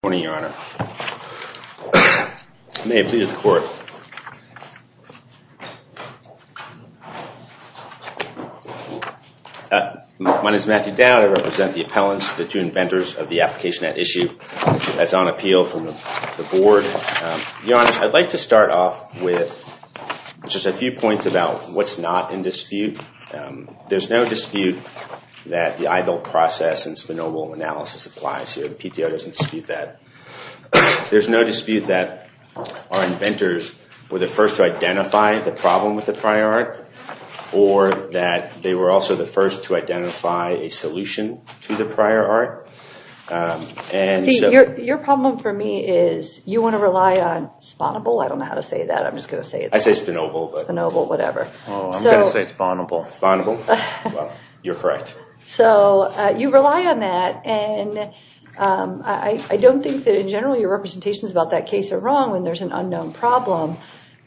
Good morning, Your Honor. May it please the Court. My name is Matthew Dowd. I represent the appellants, the two inventors of the application at issue that's on appeal from the Board. Your Honor, I'd like to start off with just a few points about what's not in dispute. There's no dispute that the Eidel process and Sponobel analysis applies here. The PTO doesn't dispute that. There's no dispute that our inventors were the first to identify the problem with the prior art, or that they were also the first to identify a solution to the prior art. See, your problem for me is you want to rely on Sponobel. I don't know how to say that. I'm just going to say it. I say Sponobel. Sponobel, whatever. I'm going to say Sponobel. Sponobel. You're correct. So you rely on that, and I don't think that in general your representations about that case are wrong when there's an unknown problem.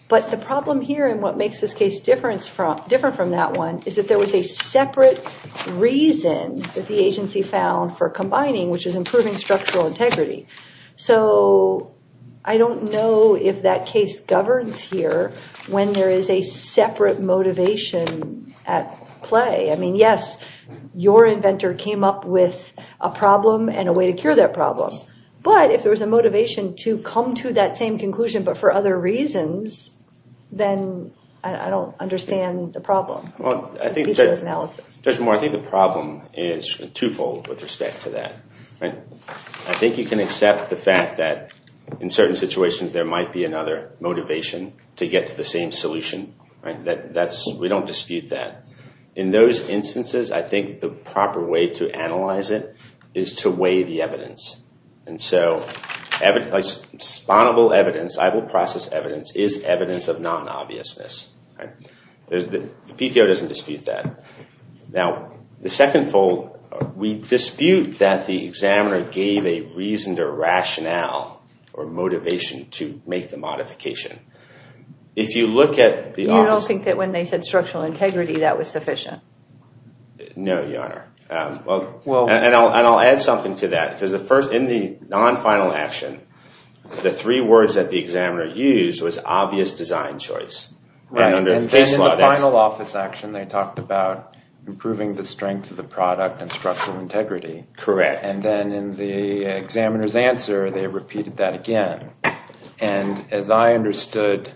But the problem here and what makes this case different from that one is that there was a separate reason that the agency found for combining, which is improving structural integrity. So I don't know if that case governs here when there is a separate motivation at play. I mean, yes, your inventor came up with a problem and a way to cure that problem. But if there was a motivation to come to that same conclusion but for other reasons, then I don't understand the problem. Judge Moore, I think the problem is twofold with respect to that. I think you can accept the fact that in certain situations there might be another motivation to get to the same solution. We don't dispute that. In those instances, I think the proper way to analyze it is to weigh the evidence. And so Sponobel evidence, eyeball process evidence, is evidence of non-obviousness. The PTO doesn't dispute that. Now, the second fold, we dispute that the examiner gave a reason or rationale or motivation to make the modification. You don't think that when they said structural integrity, that was sufficient? No, Your Honor. And I'll add something to that. Because in the non-final action, the three words that the examiner used was obvious design choice. And in the final office action, they talked about improving the strength of the product and structural integrity. Correct. And then in the examiner's answer, they repeated that again. And as I understood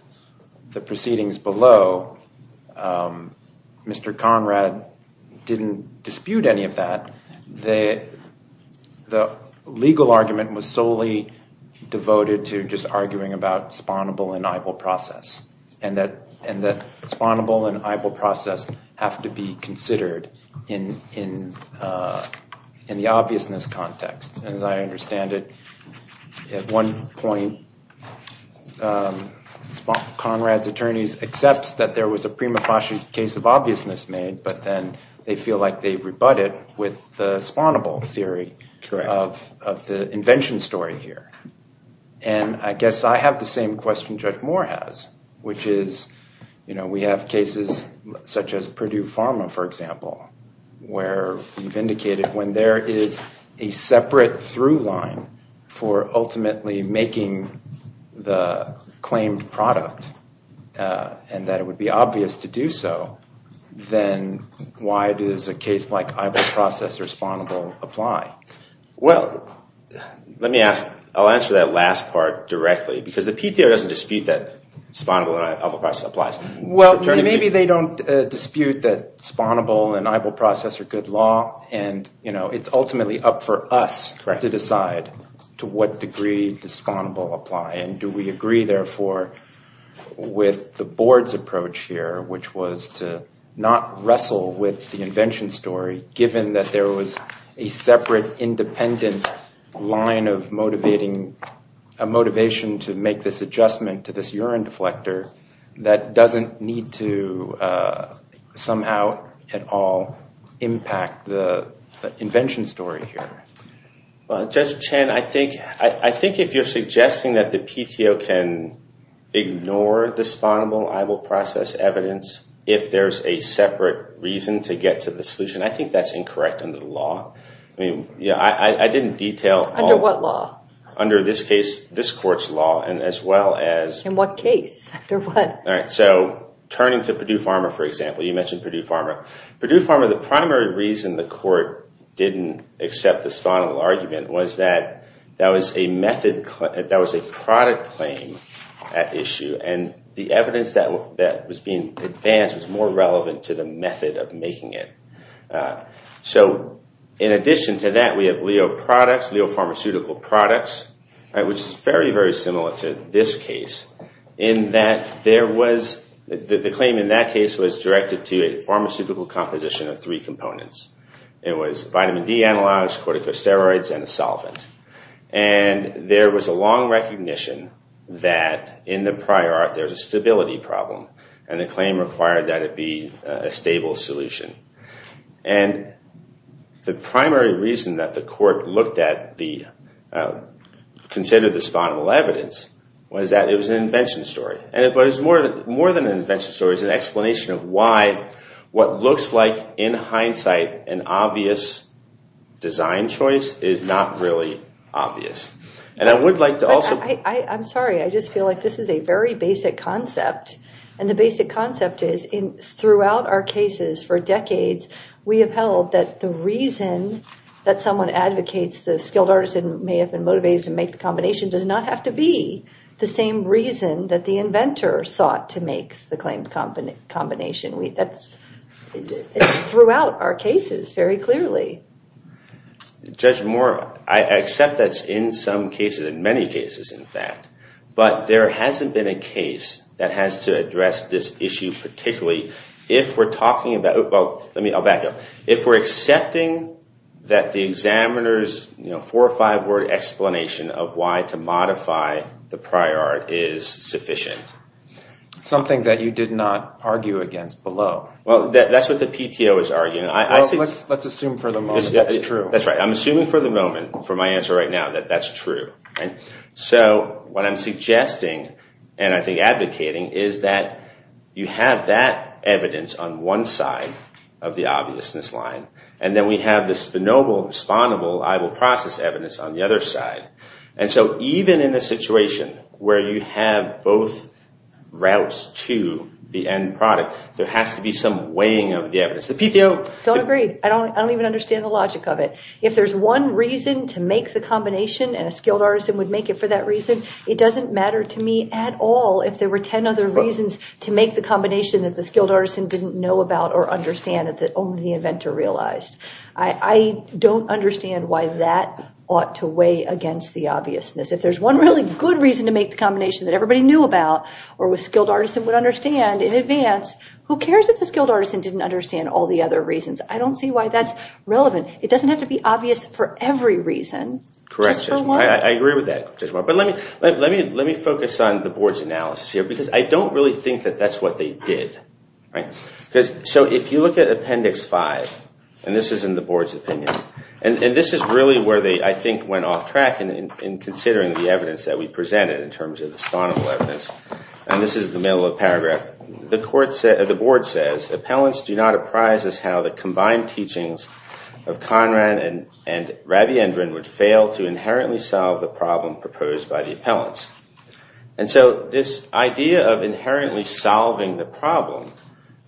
the proceedings below, Mr. Conrad didn't dispute any of that. The legal argument was solely devoted to just arguing about Sponobel and eyeball process. And that Sponobel and eyeball process have to be considered in the obviousness context. And as I understand it, at one point, Conrad's attorneys accept that there was a prima facie case of obviousness made. But then they feel like they rebut it with the Sponobel theory of the invention story here. And I guess I have the same question Judge Moore has, which is, you know, we have cases such as Purdue Pharma, for example, where we've indicated when there is a separate through line for ultimately making the claimed product, and that it would be obvious to do so, then why does a case like eyeball process or Sponobel apply? Well, let me ask, I'll answer that last part directly. Because the PTO doesn't dispute that Sponobel and eyeball process applies. Well, maybe they don't dispute that Sponobel and eyeball process are good law. And, you know, it's ultimately up for us to decide to what degree does Sponobel apply. And do we agree, therefore, with the board's approach here, which was to not wrestle with the invention story, given that there was a separate independent line of motivating, a motivation to make this adjustment to this urine deflector, that doesn't need to somehow at all impact the invention story here. Well, Judge Chen, I think if you're suggesting that the PTO can ignore the Sponobel eyeball process evidence, if there's a separate reason to get to the solution, I think that's incorrect under the law. I mean, I didn't detail... Under what law? Under this case, this court's law, and as well as... In what case? All right, so turning to Purdue Pharma, for example, you mentioned Purdue Pharma. Purdue Pharma, the primary reason the court didn't accept the Sponobel argument was that that was a product claim issue. And the evidence that was being advanced was more relevant to the method of making it. So in addition to that, we have Leo products, Leo pharmaceutical products, which is very, very similar to this case, in that there was... The claim in that case was directed to a pharmaceutical composition of three components. It was vitamin D analogs, corticosteroids, and a solvent. And there was a long recognition that in the prior art there was a stability problem, and the claim required that it be a stable solution. And the primary reason that the court considered the Sponobel evidence was that it was an invention story. But it's more than an invention story. It's an explanation of why what looks like, in hindsight, an obvious design choice is not really obvious. And I would like to also... I'm sorry. I just feel like this is a very basic concept. And the basic concept is throughout our cases for decades, we have held that the reason that someone advocates the skilled artisan may have been motivated to make the combination does not have to be the same reason that the inventor sought to make the claimed combination. That's throughout our cases very clearly. Judge Moore, I accept that's in some cases, in many cases, in fact. But there hasn't been a case that has to address this issue particularly. If we're talking about... Well, let me... I'll back up. If we're accepting that the examiner's four or five-word explanation of why to modify the prior art is sufficient. Something that you did not argue against below. Well, that's what the PTO is arguing. Well, let's assume for the moment that's true. That's right. I'm assuming for the moment, for my answer right now, that that's true. So what I'm suggesting and I think advocating is that you have that evidence on one side of the obviousness line. And then we have this spinobal, respondable, I will process evidence on the other side. And so even in a situation where you have both routes to the end product, there has to be some weighing of the evidence. The PTO... Don't agree. I don't even understand the logic of it. If there's one reason to make the combination and a skilled artisan would make it for that reason, it doesn't matter to me at all if there were ten other reasons to make the combination that the skilled artisan didn't know about or understand that only the inventor realized. I don't understand why that ought to weigh against the obviousness. If there's one really good reason to make the combination that everybody knew about or a skilled artisan would understand in advance, who cares if the skilled artisan didn't understand all the other reasons? I don't see why that's relevant. It doesn't have to be obvious for every reason. Correct. Just for one. I agree with that. But let me focus on the board's analysis here because I don't really think that that's what they did. So if you look at Appendix 5, and this is in the board's opinion, and this is really where they, I think, went off track in considering the evidence that we presented in terms of the spinobal evidence. And this is the middle of the paragraph. The board says, Appellants do not apprise as how the combined teachings of Conrad and Rabiendran would fail to inherently solve the problem proposed by the appellants. And so this idea of inherently solving the problem,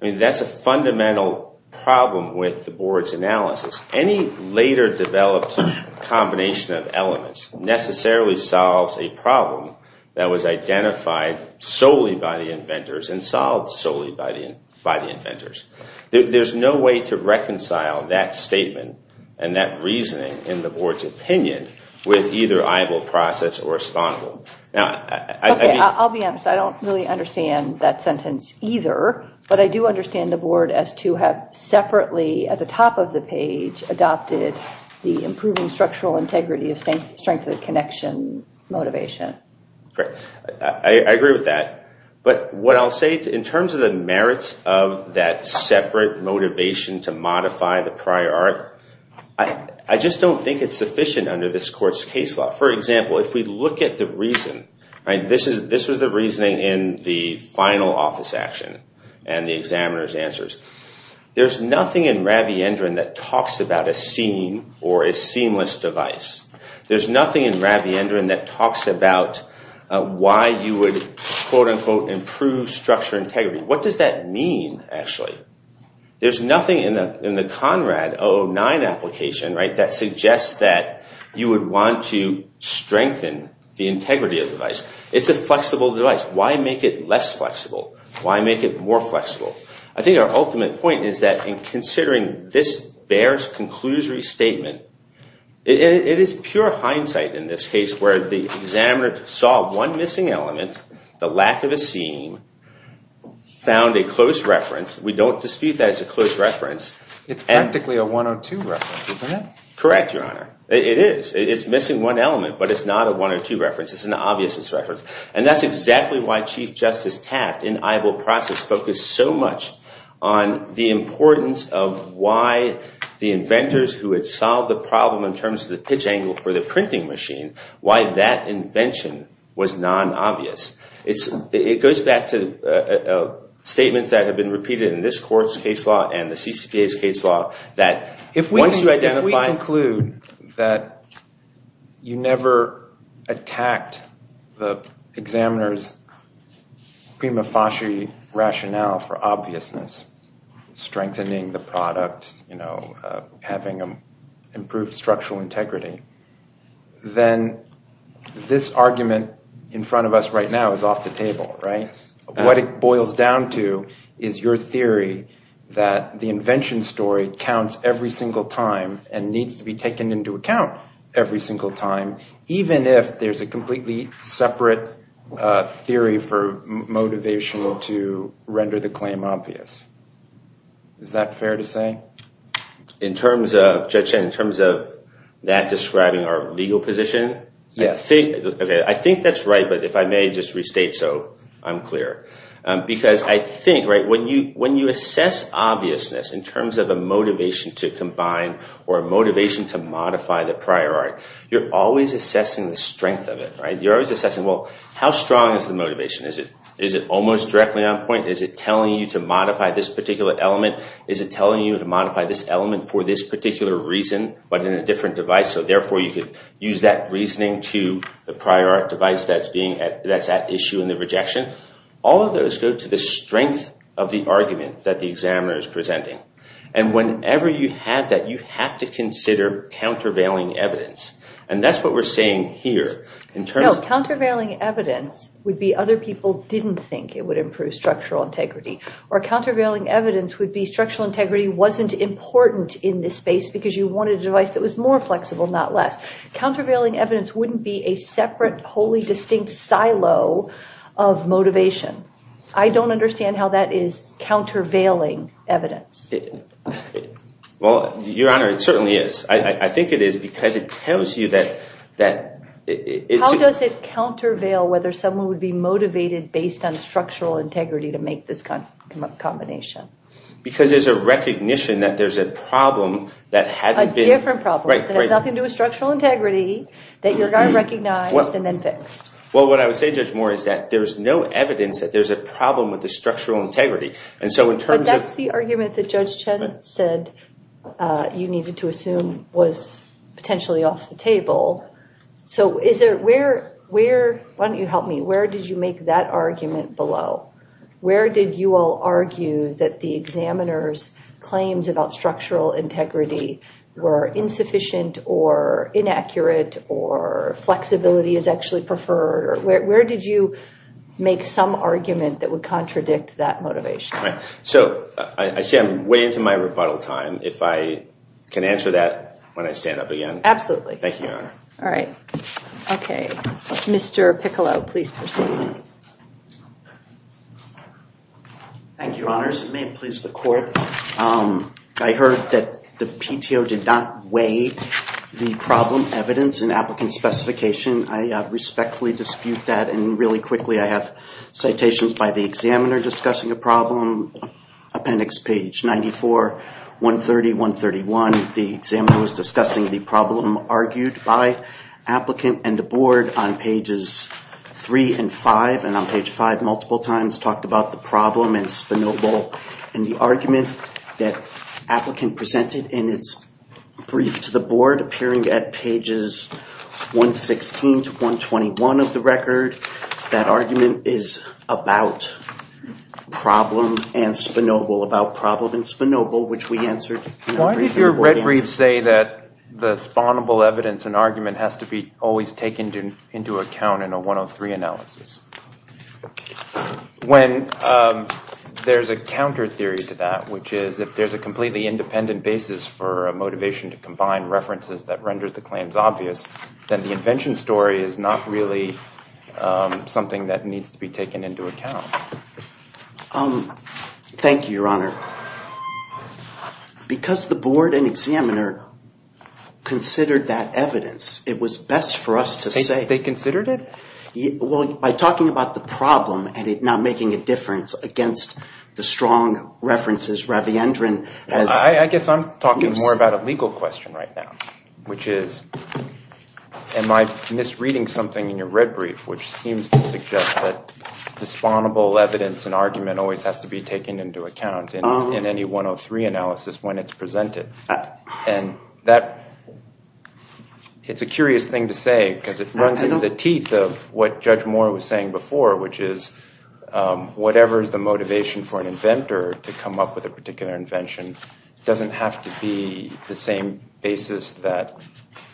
I mean, that's a fundamental problem with the board's analysis. Any later developed combination of elements necessarily solves a problem that was identified solely by the inventors and solved solely by the inventors. There's no way to reconcile that statement and that reasoning in the board's opinion with either eyeball process or spinobal. I'll be honest. I don't really understand that sentence either. But I do understand the board as to have separately at the top of the page adopted the improving structural integrity of strength of the connection motivation. Great. I agree with that. But what I'll say in terms of the merits of that separate motivation to modify the prior art, I just don't think it's sufficient under this court's case law. For example, if we look at the reason, this was the reasoning in the final office action and the examiner's answers. There's nothing in Rabiendran that talks about a seam or a seamless device. There's nothing in Rabiendran that talks about why you would, quote unquote, improve structure integrity. What does that mean, actually? There's nothing in the Conrad 09 application that suggests that you would want to strengthen the integrity of the device. It's a flexible device. Why make it less flexible? Why make it more flexible? I think our ultimate point is that in considering this Bayer's conclusory statement, it is pure hindsight in this case where the examiner saw one missing element, the lack of a seam, found a close reference. We don't dispute that it's a close reference. It's practically a 102 reference, isn't it? Correct, Your Honor. It is. It's missing one element, but it's not a 102 reference. It's an obviousness reference. And that's exactly why Chief Justice Taft in Eibel process focused so much on the importance of why the inventors who had solved the problem in terms of the pitch angle for the printing machine, why that invention was non-obvious. It goes back to statements that have been repeated in this court's case law and the CCPA's case law that once you identify— the examiner's prima facie rationale for obviousness, strengthening the product, having improved structural integrity, then this argument in front of us right now is off the table, right? What it boils down to is your theory that the invention story counts every single time and needs to be taken into account every single time, even if there's a completely separate theory for motivation to render the claim obvious. Is that fair to say? Judge Chen, in terms of that describing our legal position, I think that's right, but if I may just restate so, I'm clear. Because I think when you assess obviousness in terms of a motivation to combine or a motivation to modify the prior art, you're always assessing the strength of it, right? You're always assessing, well, how strong is the motivation? Is it almost directly on point? Is it telling you to modify this particular element? Is it telling you to modify this element for this particular reason but in a different device so therefore you could use that reasoning to the prior art device that's at issue in the rejection? All of those go to the strength of the argument that the examiner is presenting. And whenever you have that, you have to consider countervailing evidence. And that's what we're saying here. No, countervailing evidence would be other people didn't think it would improve structural integrity. Or countervailing evidence would be structural integrity wasn't important in this space because you wanted a device that was more flexible, not less. Countervailing evidence wouldn't be a separate, wholly distinct silo of motivation. I don't understand how that is countervailing evidence. Well, Your Honor, it certainly is. I think it is because it tells you that it's... ...countervail whether someone would be motivated based on structural integrity to make this combination. Because there's a recognition that there's a problem that hadn't been... A different problem. Right, right. There's nothing to a structural integrity that you're going to recognize and then fix. Well, what I would say, Judge Moore, is that there's no evidence that there's a problem with the structural integrity. And so in terms of... But that's the argument that Judge Chen said you needed to assume was potentially off the table. So is there... Where... Why don't you help me? Where did you make that argument below? Where did you all argue that the examiner's claims about structural integrity were insufficient or inaccurate or flexibility is actually preferred? Where did you make some argument that would contradict that motivation? So I see I'm way into my rebuttal time. If I can answer that when I stand up again. Absolutely. Thank you, Your Honor. All right. Okay. Mr. Piccolo, please proceed. Thank you, Your Honors. It may please the Court. I heard that the PTO did not weigh the problem evidence in applicant specification. I respectfully dispute that. And really quickly, I have citations by the examiner discussing a problem. Appendix page 94, 130, 131. The examiner was discussing the problem argued by applicant and the board on pages 3 and 5. And on page 5, multiple times, talked about the problem and Spinoble and the argument that applicant presented in its brief to the board appearing at pages 116 to 121 of the record. That argument is about problem and Spinoble. About problem and Spinoble, which we answered... Why did your red brief say that the Spinoble evidence and argument has to be always taken into account in a 103 analysis? When there's a counter theory to that, which is if there's a completely independent basis for a motivation to combine references that renders the claims obvious, then the invention story is not really something that needs to be taken into account. Thank you, Your Honor. Because the board and examiner considered that evidence, it was best for us to say... They considered it? Well, by talking about the problem and it not making a difference against the strong references, Raviendran has... I guess I'm talking more about a legal question right now, which is, am I misreading something in your red brief, which seems to suggest that the Spinoble evidence and argument always has to be taken into account in any 103 analysis when it's presented? And it's a curious thing to say because it runs into the teeth of what Judge Moore was saying before, which is whatever is the motivation for an inventor to come up with a particular invention doesn't have to be the same basis that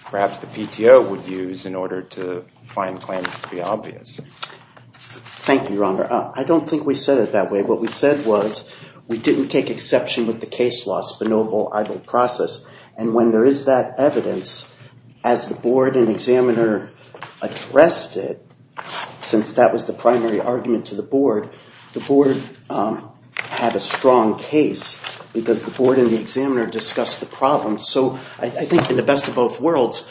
perhaps the PTO would use in order to find claims to be obvious. Thank you, Your Honor. I don't think we said it that way. What we said was we didn't take exception with the case law Spinoble process. And when there is that evidence, as the board and examiner addressed it, since that was the primary argument to the board, the board had a strong case because the board and the examiner discussed the problem. So I think in the best of both worlds,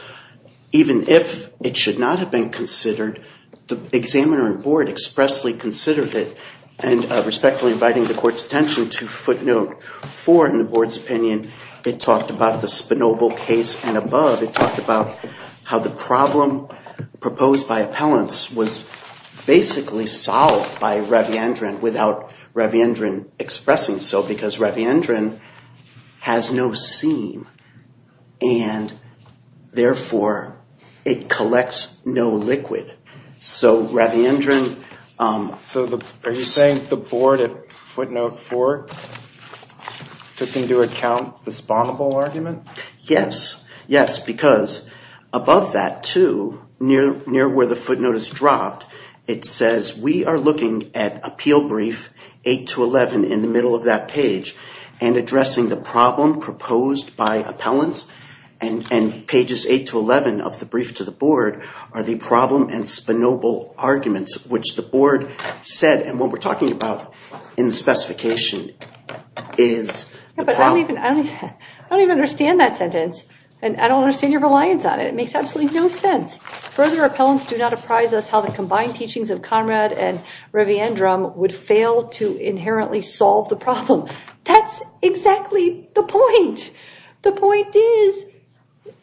even if it should not have been considered, the examiner and board expressly considered it and respectfully inviting the court's attention to footnote four in the board's opinion. It talked about the Spinoble case and above. It talked about how the problem proposed by appellants was basically solved by Ravindran without Ravindran expressing so, because Ravindran has no seam and therefore it collects no liquid. So Ravindran. So are you saying the board at footnote four took into account the Spinoble argument? Yes. Yes, because above that, too, near where the footnote is dropped, it says we are looking at appeal brief 8 to 11 in the middle of that page and addressing the problem proposed by appellants and pages 8 to 11 of the brief to the board are the problem and Spinoble arguments, which the board said and what we're talking about in the specification is the problem. I don't even understand that sentence and I don't understand your reliance on it. It makes absolutely no sense. Further, appellants do not apprise us how the combined teachings of Conrad and Ravindran would fail to inherently solve the problem. That's exactly the point. The point is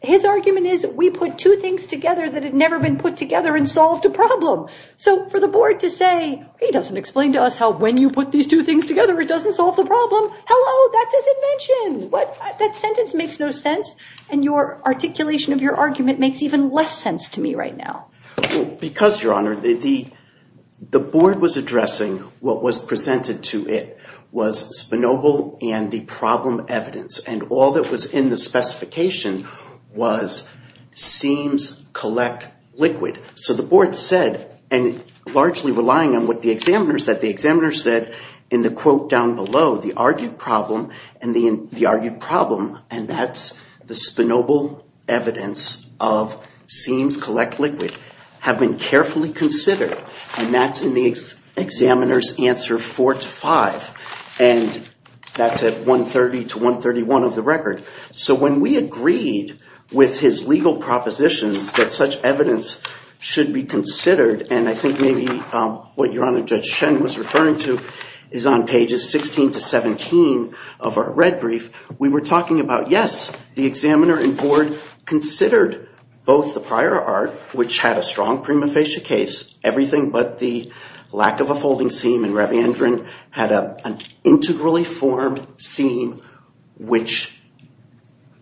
his argument is we put two things together that had never been put together and solved a problem. So for the board to say he doesn't explain to us how when you put these two things together, it doesn't solve the problem. Hello. That's his invention. That sentence makes no sense. And your articulation of your argument makes even less sense to me right now. Because, Your Honor, the board was addressing what was presented to it was Spinoble and the problem evidence. And all that was in the specification was seems collect liquid. So the board said, and largely relying on what the examiner said, the examiner said in the quote down below, the argued problem and the argued problem, and that's the Spinoble evidence of seems collect liquid, have been carefully considered. And that's in the examiner's answer four to five. And that's at 130 to 131 of the record. So when we agreed with his legal propositions that such evidence should be considered, and I think maybe what Your Honor, Judge Shen was referring to is on pages 16 to 17 of our red brief, we were talking about, yes, the examiner and board considered both the prior art, which had a strong prima facie case, everything but the lack of a folding seam in revandron had an integrally formed seam which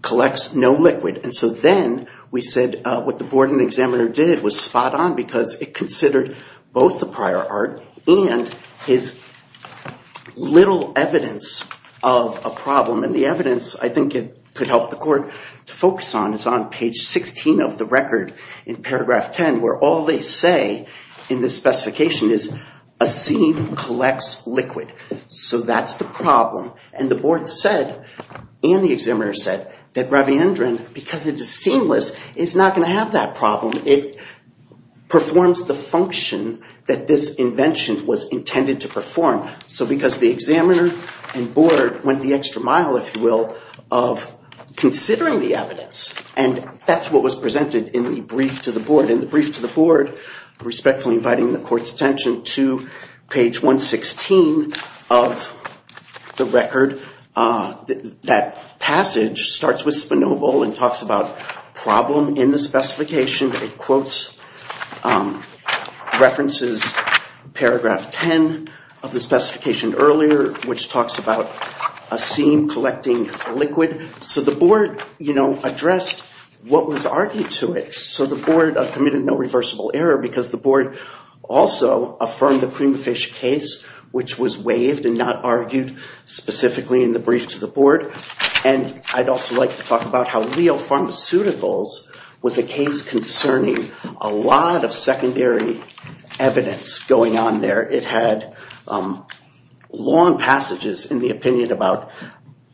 collects no liquid. And so then we said what the board and examiner did was spot on because it considered both the prior art and his little evidence of a problem. And the evidence I think it could help the court to focus on is on page 16 of the record in paragraph 10 where all they say in this specification is a seam collects liquid. So that's the problem. And the board said and the examiner said that revandron, because it is seamless, is not going to have that problem. It performs the function that this invention was intended to perform. So because the examiner and board went the extra mile, if you will, of considering the evidence. And that's what was presented in the brief to the board. In the brief to the board, respectfully inviting the court's attention to page 116 of the record, that passage starts with Spinoble and talks about problem in the specification. It quotes references paragraph 10 of the specification earlier which talks about a seam collecting liquid. So the board addressed what was argued to it. So the board committed no reversible error because the board also affirmed the cream of fish case which was waived and not argued specifically in the brief to the board. And I'd also like to talk about how Leo Pharmaceuticals was a case concerning a lot of secondary evidence going on there. It had long passages in the opinion about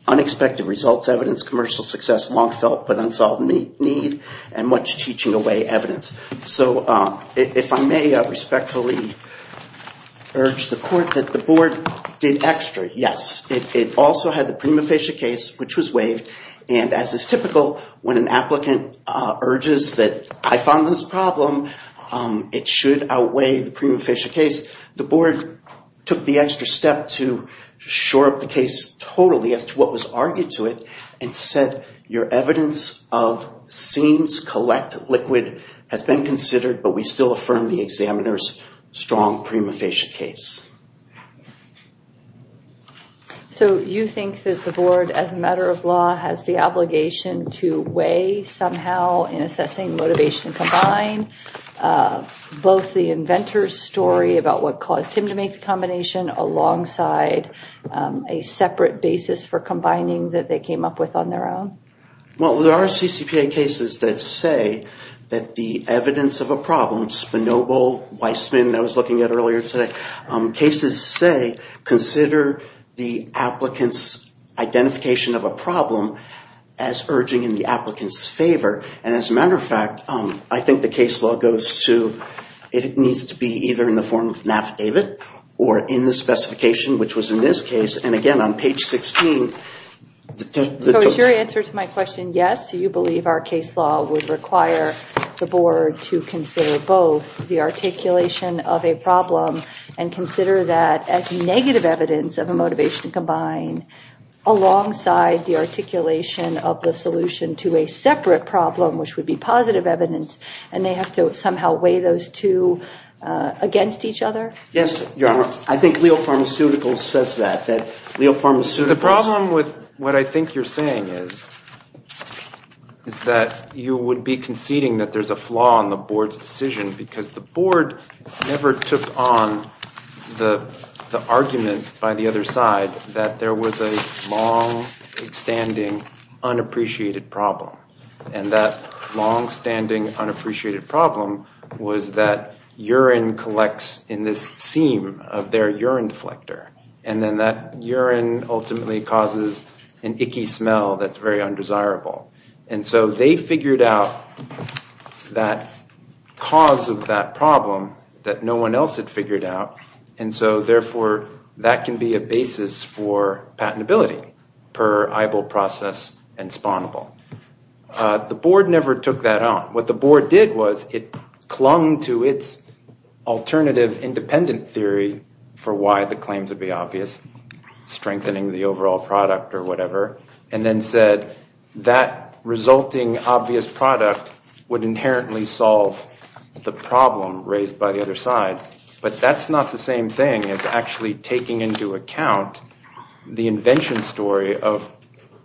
unexpected results, evidence, commercial success, long felt but unsolved need, and much teaching away evidence. So if I may respectfully urge the court that the board did extra. Yes, it also had the prima facie case which was waived. And as is typical, when an applicant urges that I found this problem, it should outweigh the prima facie case. The board took the extra step to shore up the case totally as to what was argued to it and said your evidence of seams collect liquid has been considered but we still affirm the examiner's strong prima facie case. So you think that the board as a matter of law has the obligation to weigh somehow in assessing motivation combined both the inventor's story about what caused him to make the combination alongside a separate basis for combining that they came up with on their own? Well, there are CCPA cases that say that the evidence of a problem, Spinoble, Weissman, that I was looking at earlier today, cases say consider the applicant's identification of a problem as urging in the applicant's favor. And as a matter of fact, I think the case law goes to, it needs to be either in the form of NAFTA David or in the specification which was in this case. So is your answer to my question yes, do you believe our case law would require the board to consider both the articulation of a problem and consider that as negative evidence of a motivation combined alongside the articulation of the solution to a separate problem which would be positive evidence and they have to somehow weigh those two against each other? Yes, Your Honor. I think Leo Pharmaceuticals says that. The problem with what I think you're saying is that you would be conceding that there's a flaw in the board's decision because the board never took on the argument by the other side that there was a long standing unappreciated problem. And that long standing unappreciated problem was that urine collects in this seam of their urine deflector and then that urine ultimately causes an icky smell that's very undesirable. And so they figured out that cause of that problem that no one else had figured out and so therefore that can be a basis for patentability per EIBO process and spawnable. The board never took that on. What the board did was it clung to its alternative independent theory for why the claims would be obvious, strengthening the overall product or whatever, and then said that resulting obvious product would inherently solve the problem raised by the other side. But that's not the same thing as actually taking into account the invention story of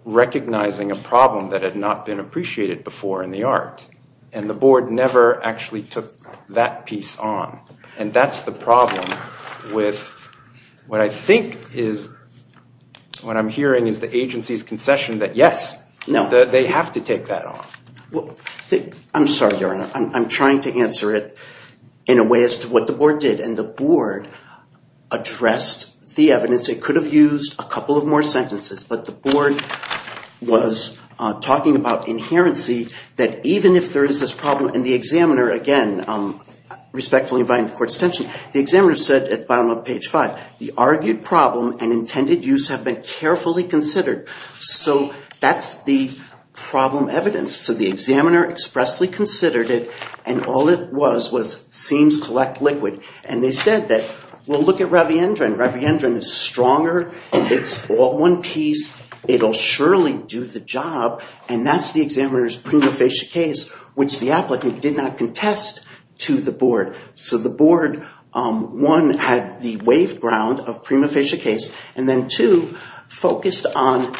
recognizing a problem that had not been appreciated before in the art. And the board never actually took that piece on. And that's the problem with what I think is what I'm hearing is the agency's concession that yes, they have to take that on. I'm sorry, Your Honor. I'm trying to answer it in a way as to what the board did. And the board addressed the evidence. It could have used a couple of more sentences, but the board was talking about inherency that even if there is this problem and the examiner, again, respectfully invite the court's attention, the examiner said at the bottom of page 5, the argued problem and intended use have been carefully considered. So that's the problem evidence. So the examiner expressly considered it, and all it was was seems collect liquid. And they said that, well, look at Reviendran. Reviendran is stronger. It's all one piece. It'll surely do the job. And that's the examiner's prima facie case, which the applicant did not contest to the board. So the board, one, had the wave ground of prima facie case, and then, two, focused on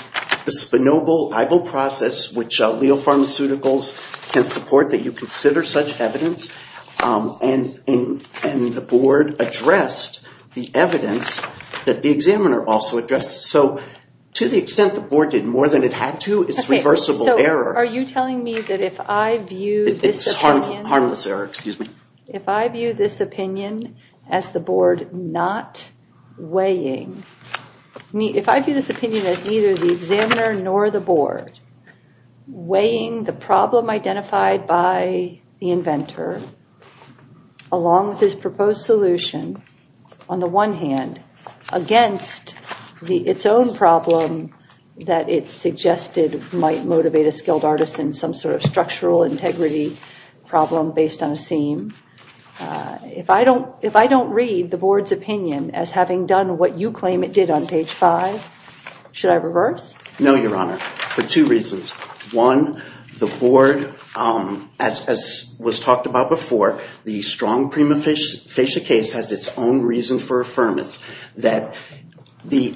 the Spinoble-Ibel process, which Leo Pharmaceuticals can support that you consider such evidence. And the board addressed the evidence that the examiner also addressed. So to the extent the board did more than it had to, it's reversible error. It's harmless error. Excuse me. structural integrity problem based on a seam. If I don't read the board's opinion as having done what you claim it did on page 5, should I reverse? No, Your Honor, for two reasons. One, the board, as was talked about before, the strong prima facie case has its own reason for affirmance, that the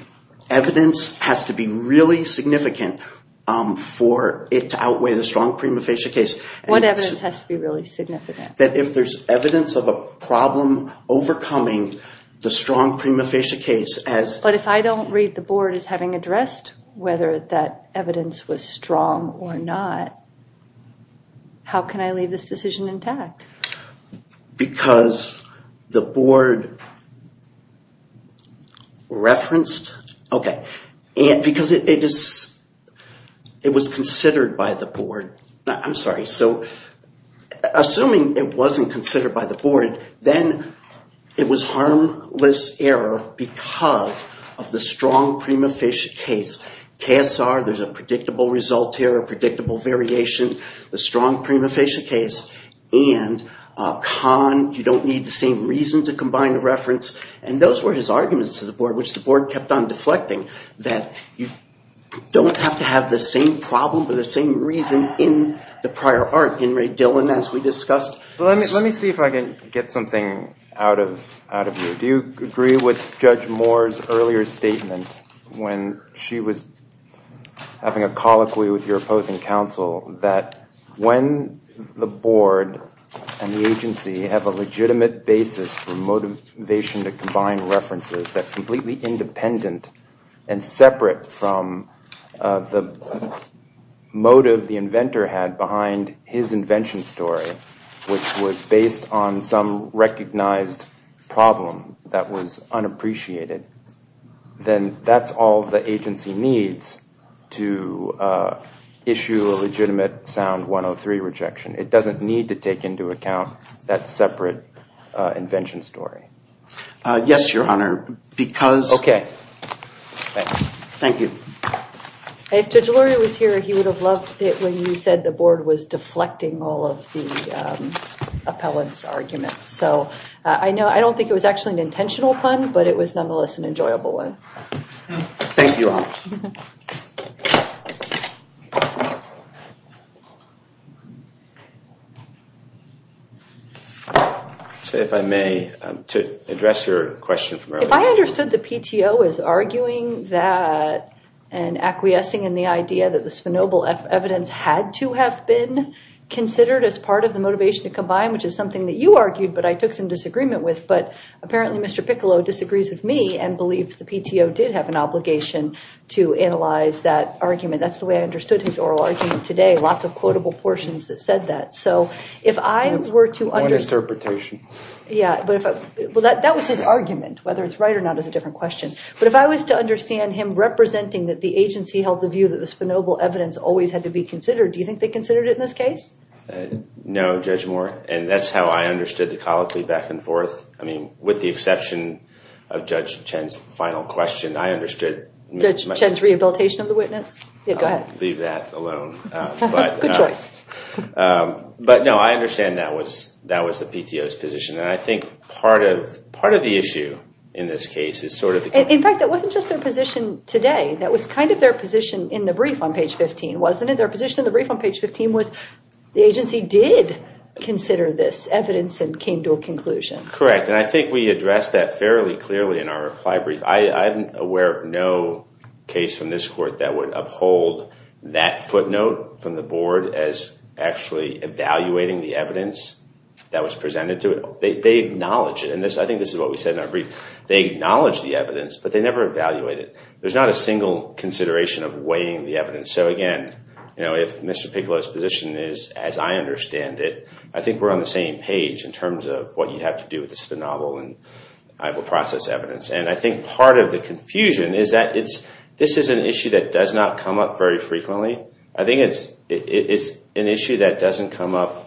evidence has to be really significant for it to outweigh the strong prima facie case. What evidence has to be really significant? That if there's evidence of a problem overcoming the strong prima facie case as… But if I don't read the board as having addressed whether that evidence was strong or not, how can I leave this decision intact? Because it was considered by the board. I'm sorry. So assuming it wasn't considered by the board, then it was harmless error because of the strong prima facie case. KSR, there's a predictable result here, a predictable variation, the strong prima facie case. And Kahn, you don't need the same reason to combine the reference. And those were his arguments to the board, which the board kept on deflecting, that you don't have to have the same problem or the same reason in the prior art. Let me see if I can get something out of you. Do you agree with Judge Moore's earlier statement when she was having a colloquy with your opposing counsel that when the board and the agency have a legitimate basis for motivation to combine references, that's completely independent and separate from the motive the inventor had behind his invention story, which was based on some recognized problem that was unappreciated, then that's all the agency needs to issue a legitimate Sound 103 rejection. It doesn't need to take into account that separate invention story. Yes, Your Honor, because... Okay. Thank you. If Judge Luria was here, he would have loved it when you said the board was deflecting all of the appellant's arguments. So I don't think it was actually an intentional pun, but it was nonetheless an enjoyable one. Thank you all. If I may, to address your question from earlier... If I understood the PTO as arguing that and acquiescing in the idea that the Spinoble F evidence had to have been considered as part of the motivation to combine, which is something that you argued, but I took some disagreement with, but apparently Mr. Piccolo disagrees with me and believes the PTO did have an obligation to combine the evidence. That's the way I understood his oral argument today. Lots of quotable portions that said that. One interpretation. That was his argument, whether it's right or not is a different question. But if I was to understand him representing that the agency held the view that the Spinoble evidence always had to be considered, do you think they considered it in this case? No, Judge Moore, and that's how I understood the colloquy back and forth. With the exception of Judge Chen's final question, I understood... Judge Chen's rehabilitation of the witness? Go ahead. Leave that alone. Good choice. But no, I understand that was the PTO's position, and I think part of the issue in this case is sort of... In fact, that wasn't just their position today. That was kind of their position in the brief on page 15, wasn't it? Their position in the brief on page 15 was the agency did consider this evidence and came to a conclusion. Correct, and I think we addressed that fairly clearly in our reply brief. I'm aware of no case from this court that would uphold that footnote from the board as actually evaluating the evidence that was presented to it. They acknowledge it, and I think this is what we said in our brief. They acknowledge the evidence, but they never evaluate it. There's not a single consideration of weighing the evidence. So again, if Mr. Piccolo's position is as I understand it, I think we're on the same page in terms of what you have to do with the spinoff, and I will process evidence. And I think part of the confusion is that this is an issue that does not come up very frequently. I think it's an issue that doesn't come up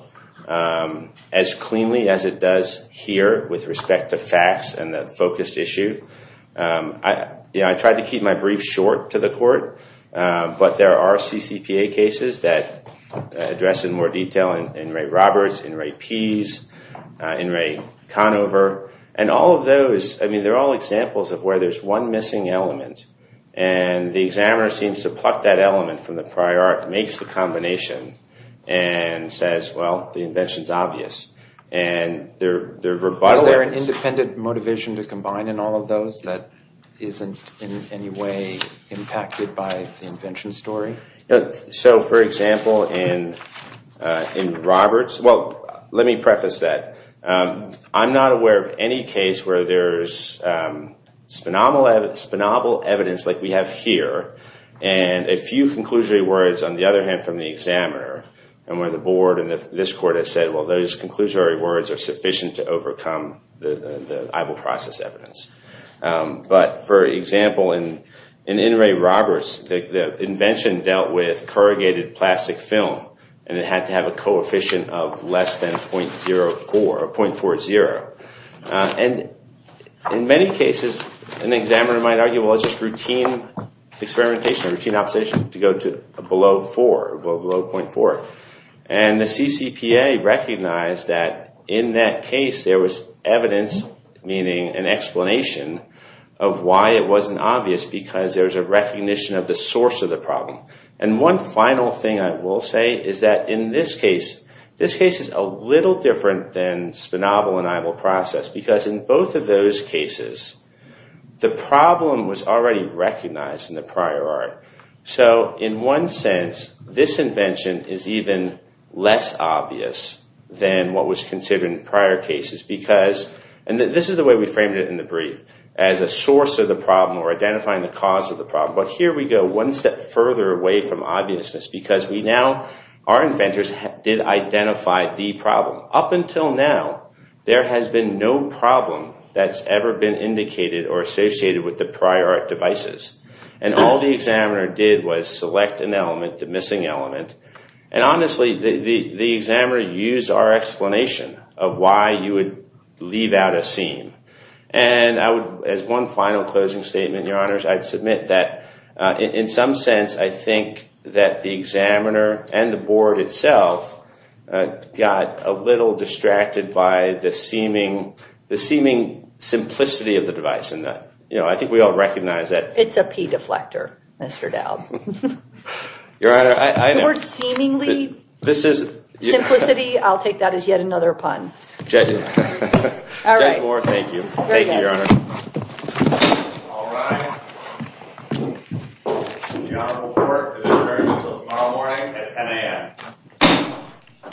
as cleanly as it does here with respect to facts and the focused issue. I tried to keep my brief short to the court, but there are CCPA cases that address it in more detail. In Ray Roberts, in Ray Pease, in Ray Conover, and all of those, I mean, they're all examples of where there's one missing element, and the examiner seems to pluck that element from the prior art, makes the combination, and says, well, the invention's obvious. Are there an independent motivation to combine in all of those that isn't in any way impacted by the invention story? So for example, in Roberts, well, let me preface that. I'm not aware of any case where there's spinoffable evidence like we have here, and a few conclusory words on the other hand from the examiner, and where the board and this court has said, well, those conclusory words are sufficient to overcome the I will process evidence. But for example, in Ray Roberts, the invention dealt with corrugated plastic film, and it had to have a coefficient of less than .40. And in many cases, an examiner might argue, well, it's just routine experimentation, routine observation to go to below .4. And the CCPA recognized that in that case, there was evidence, meaning an explanation of why it wasn't obvious, because there's a recognition of the source of the problem. And one final thing I will say is that in this case, this case is a little different than spinoffable and I will process, because in both of those cases, the problem was already recognized in the prior art. So in one sense, this invention is even less obvious than what was considered in prior cases, because, and this is the way we framed it in the brief, as a source of the problem or identifying the cause of the problem. But here we go one step further away from obviousness, because we now, our inventors did identify the problem. Up until now, there has been no problem that's ever been indicated or associated with the prior art devices. And all the examiner did was select an element, the missing element, and honestly, the examiner used our explanation of why you would leave out a seam. And as one final closing statement, your honors, I'd submit that in some sense, I think that the examiner and the board itself got a little distracted by the seeming simplicity of the device. I think we all recognize that. It's a P deflector, Mr. Dowd. Your honor, I know. The word seemingly, simplicity, I'll take that as yet another pun. Judge Moore, thank you. Thank you, your honor. All rise. The honorable court is adjourned until tomorrow morning at 10 a.m.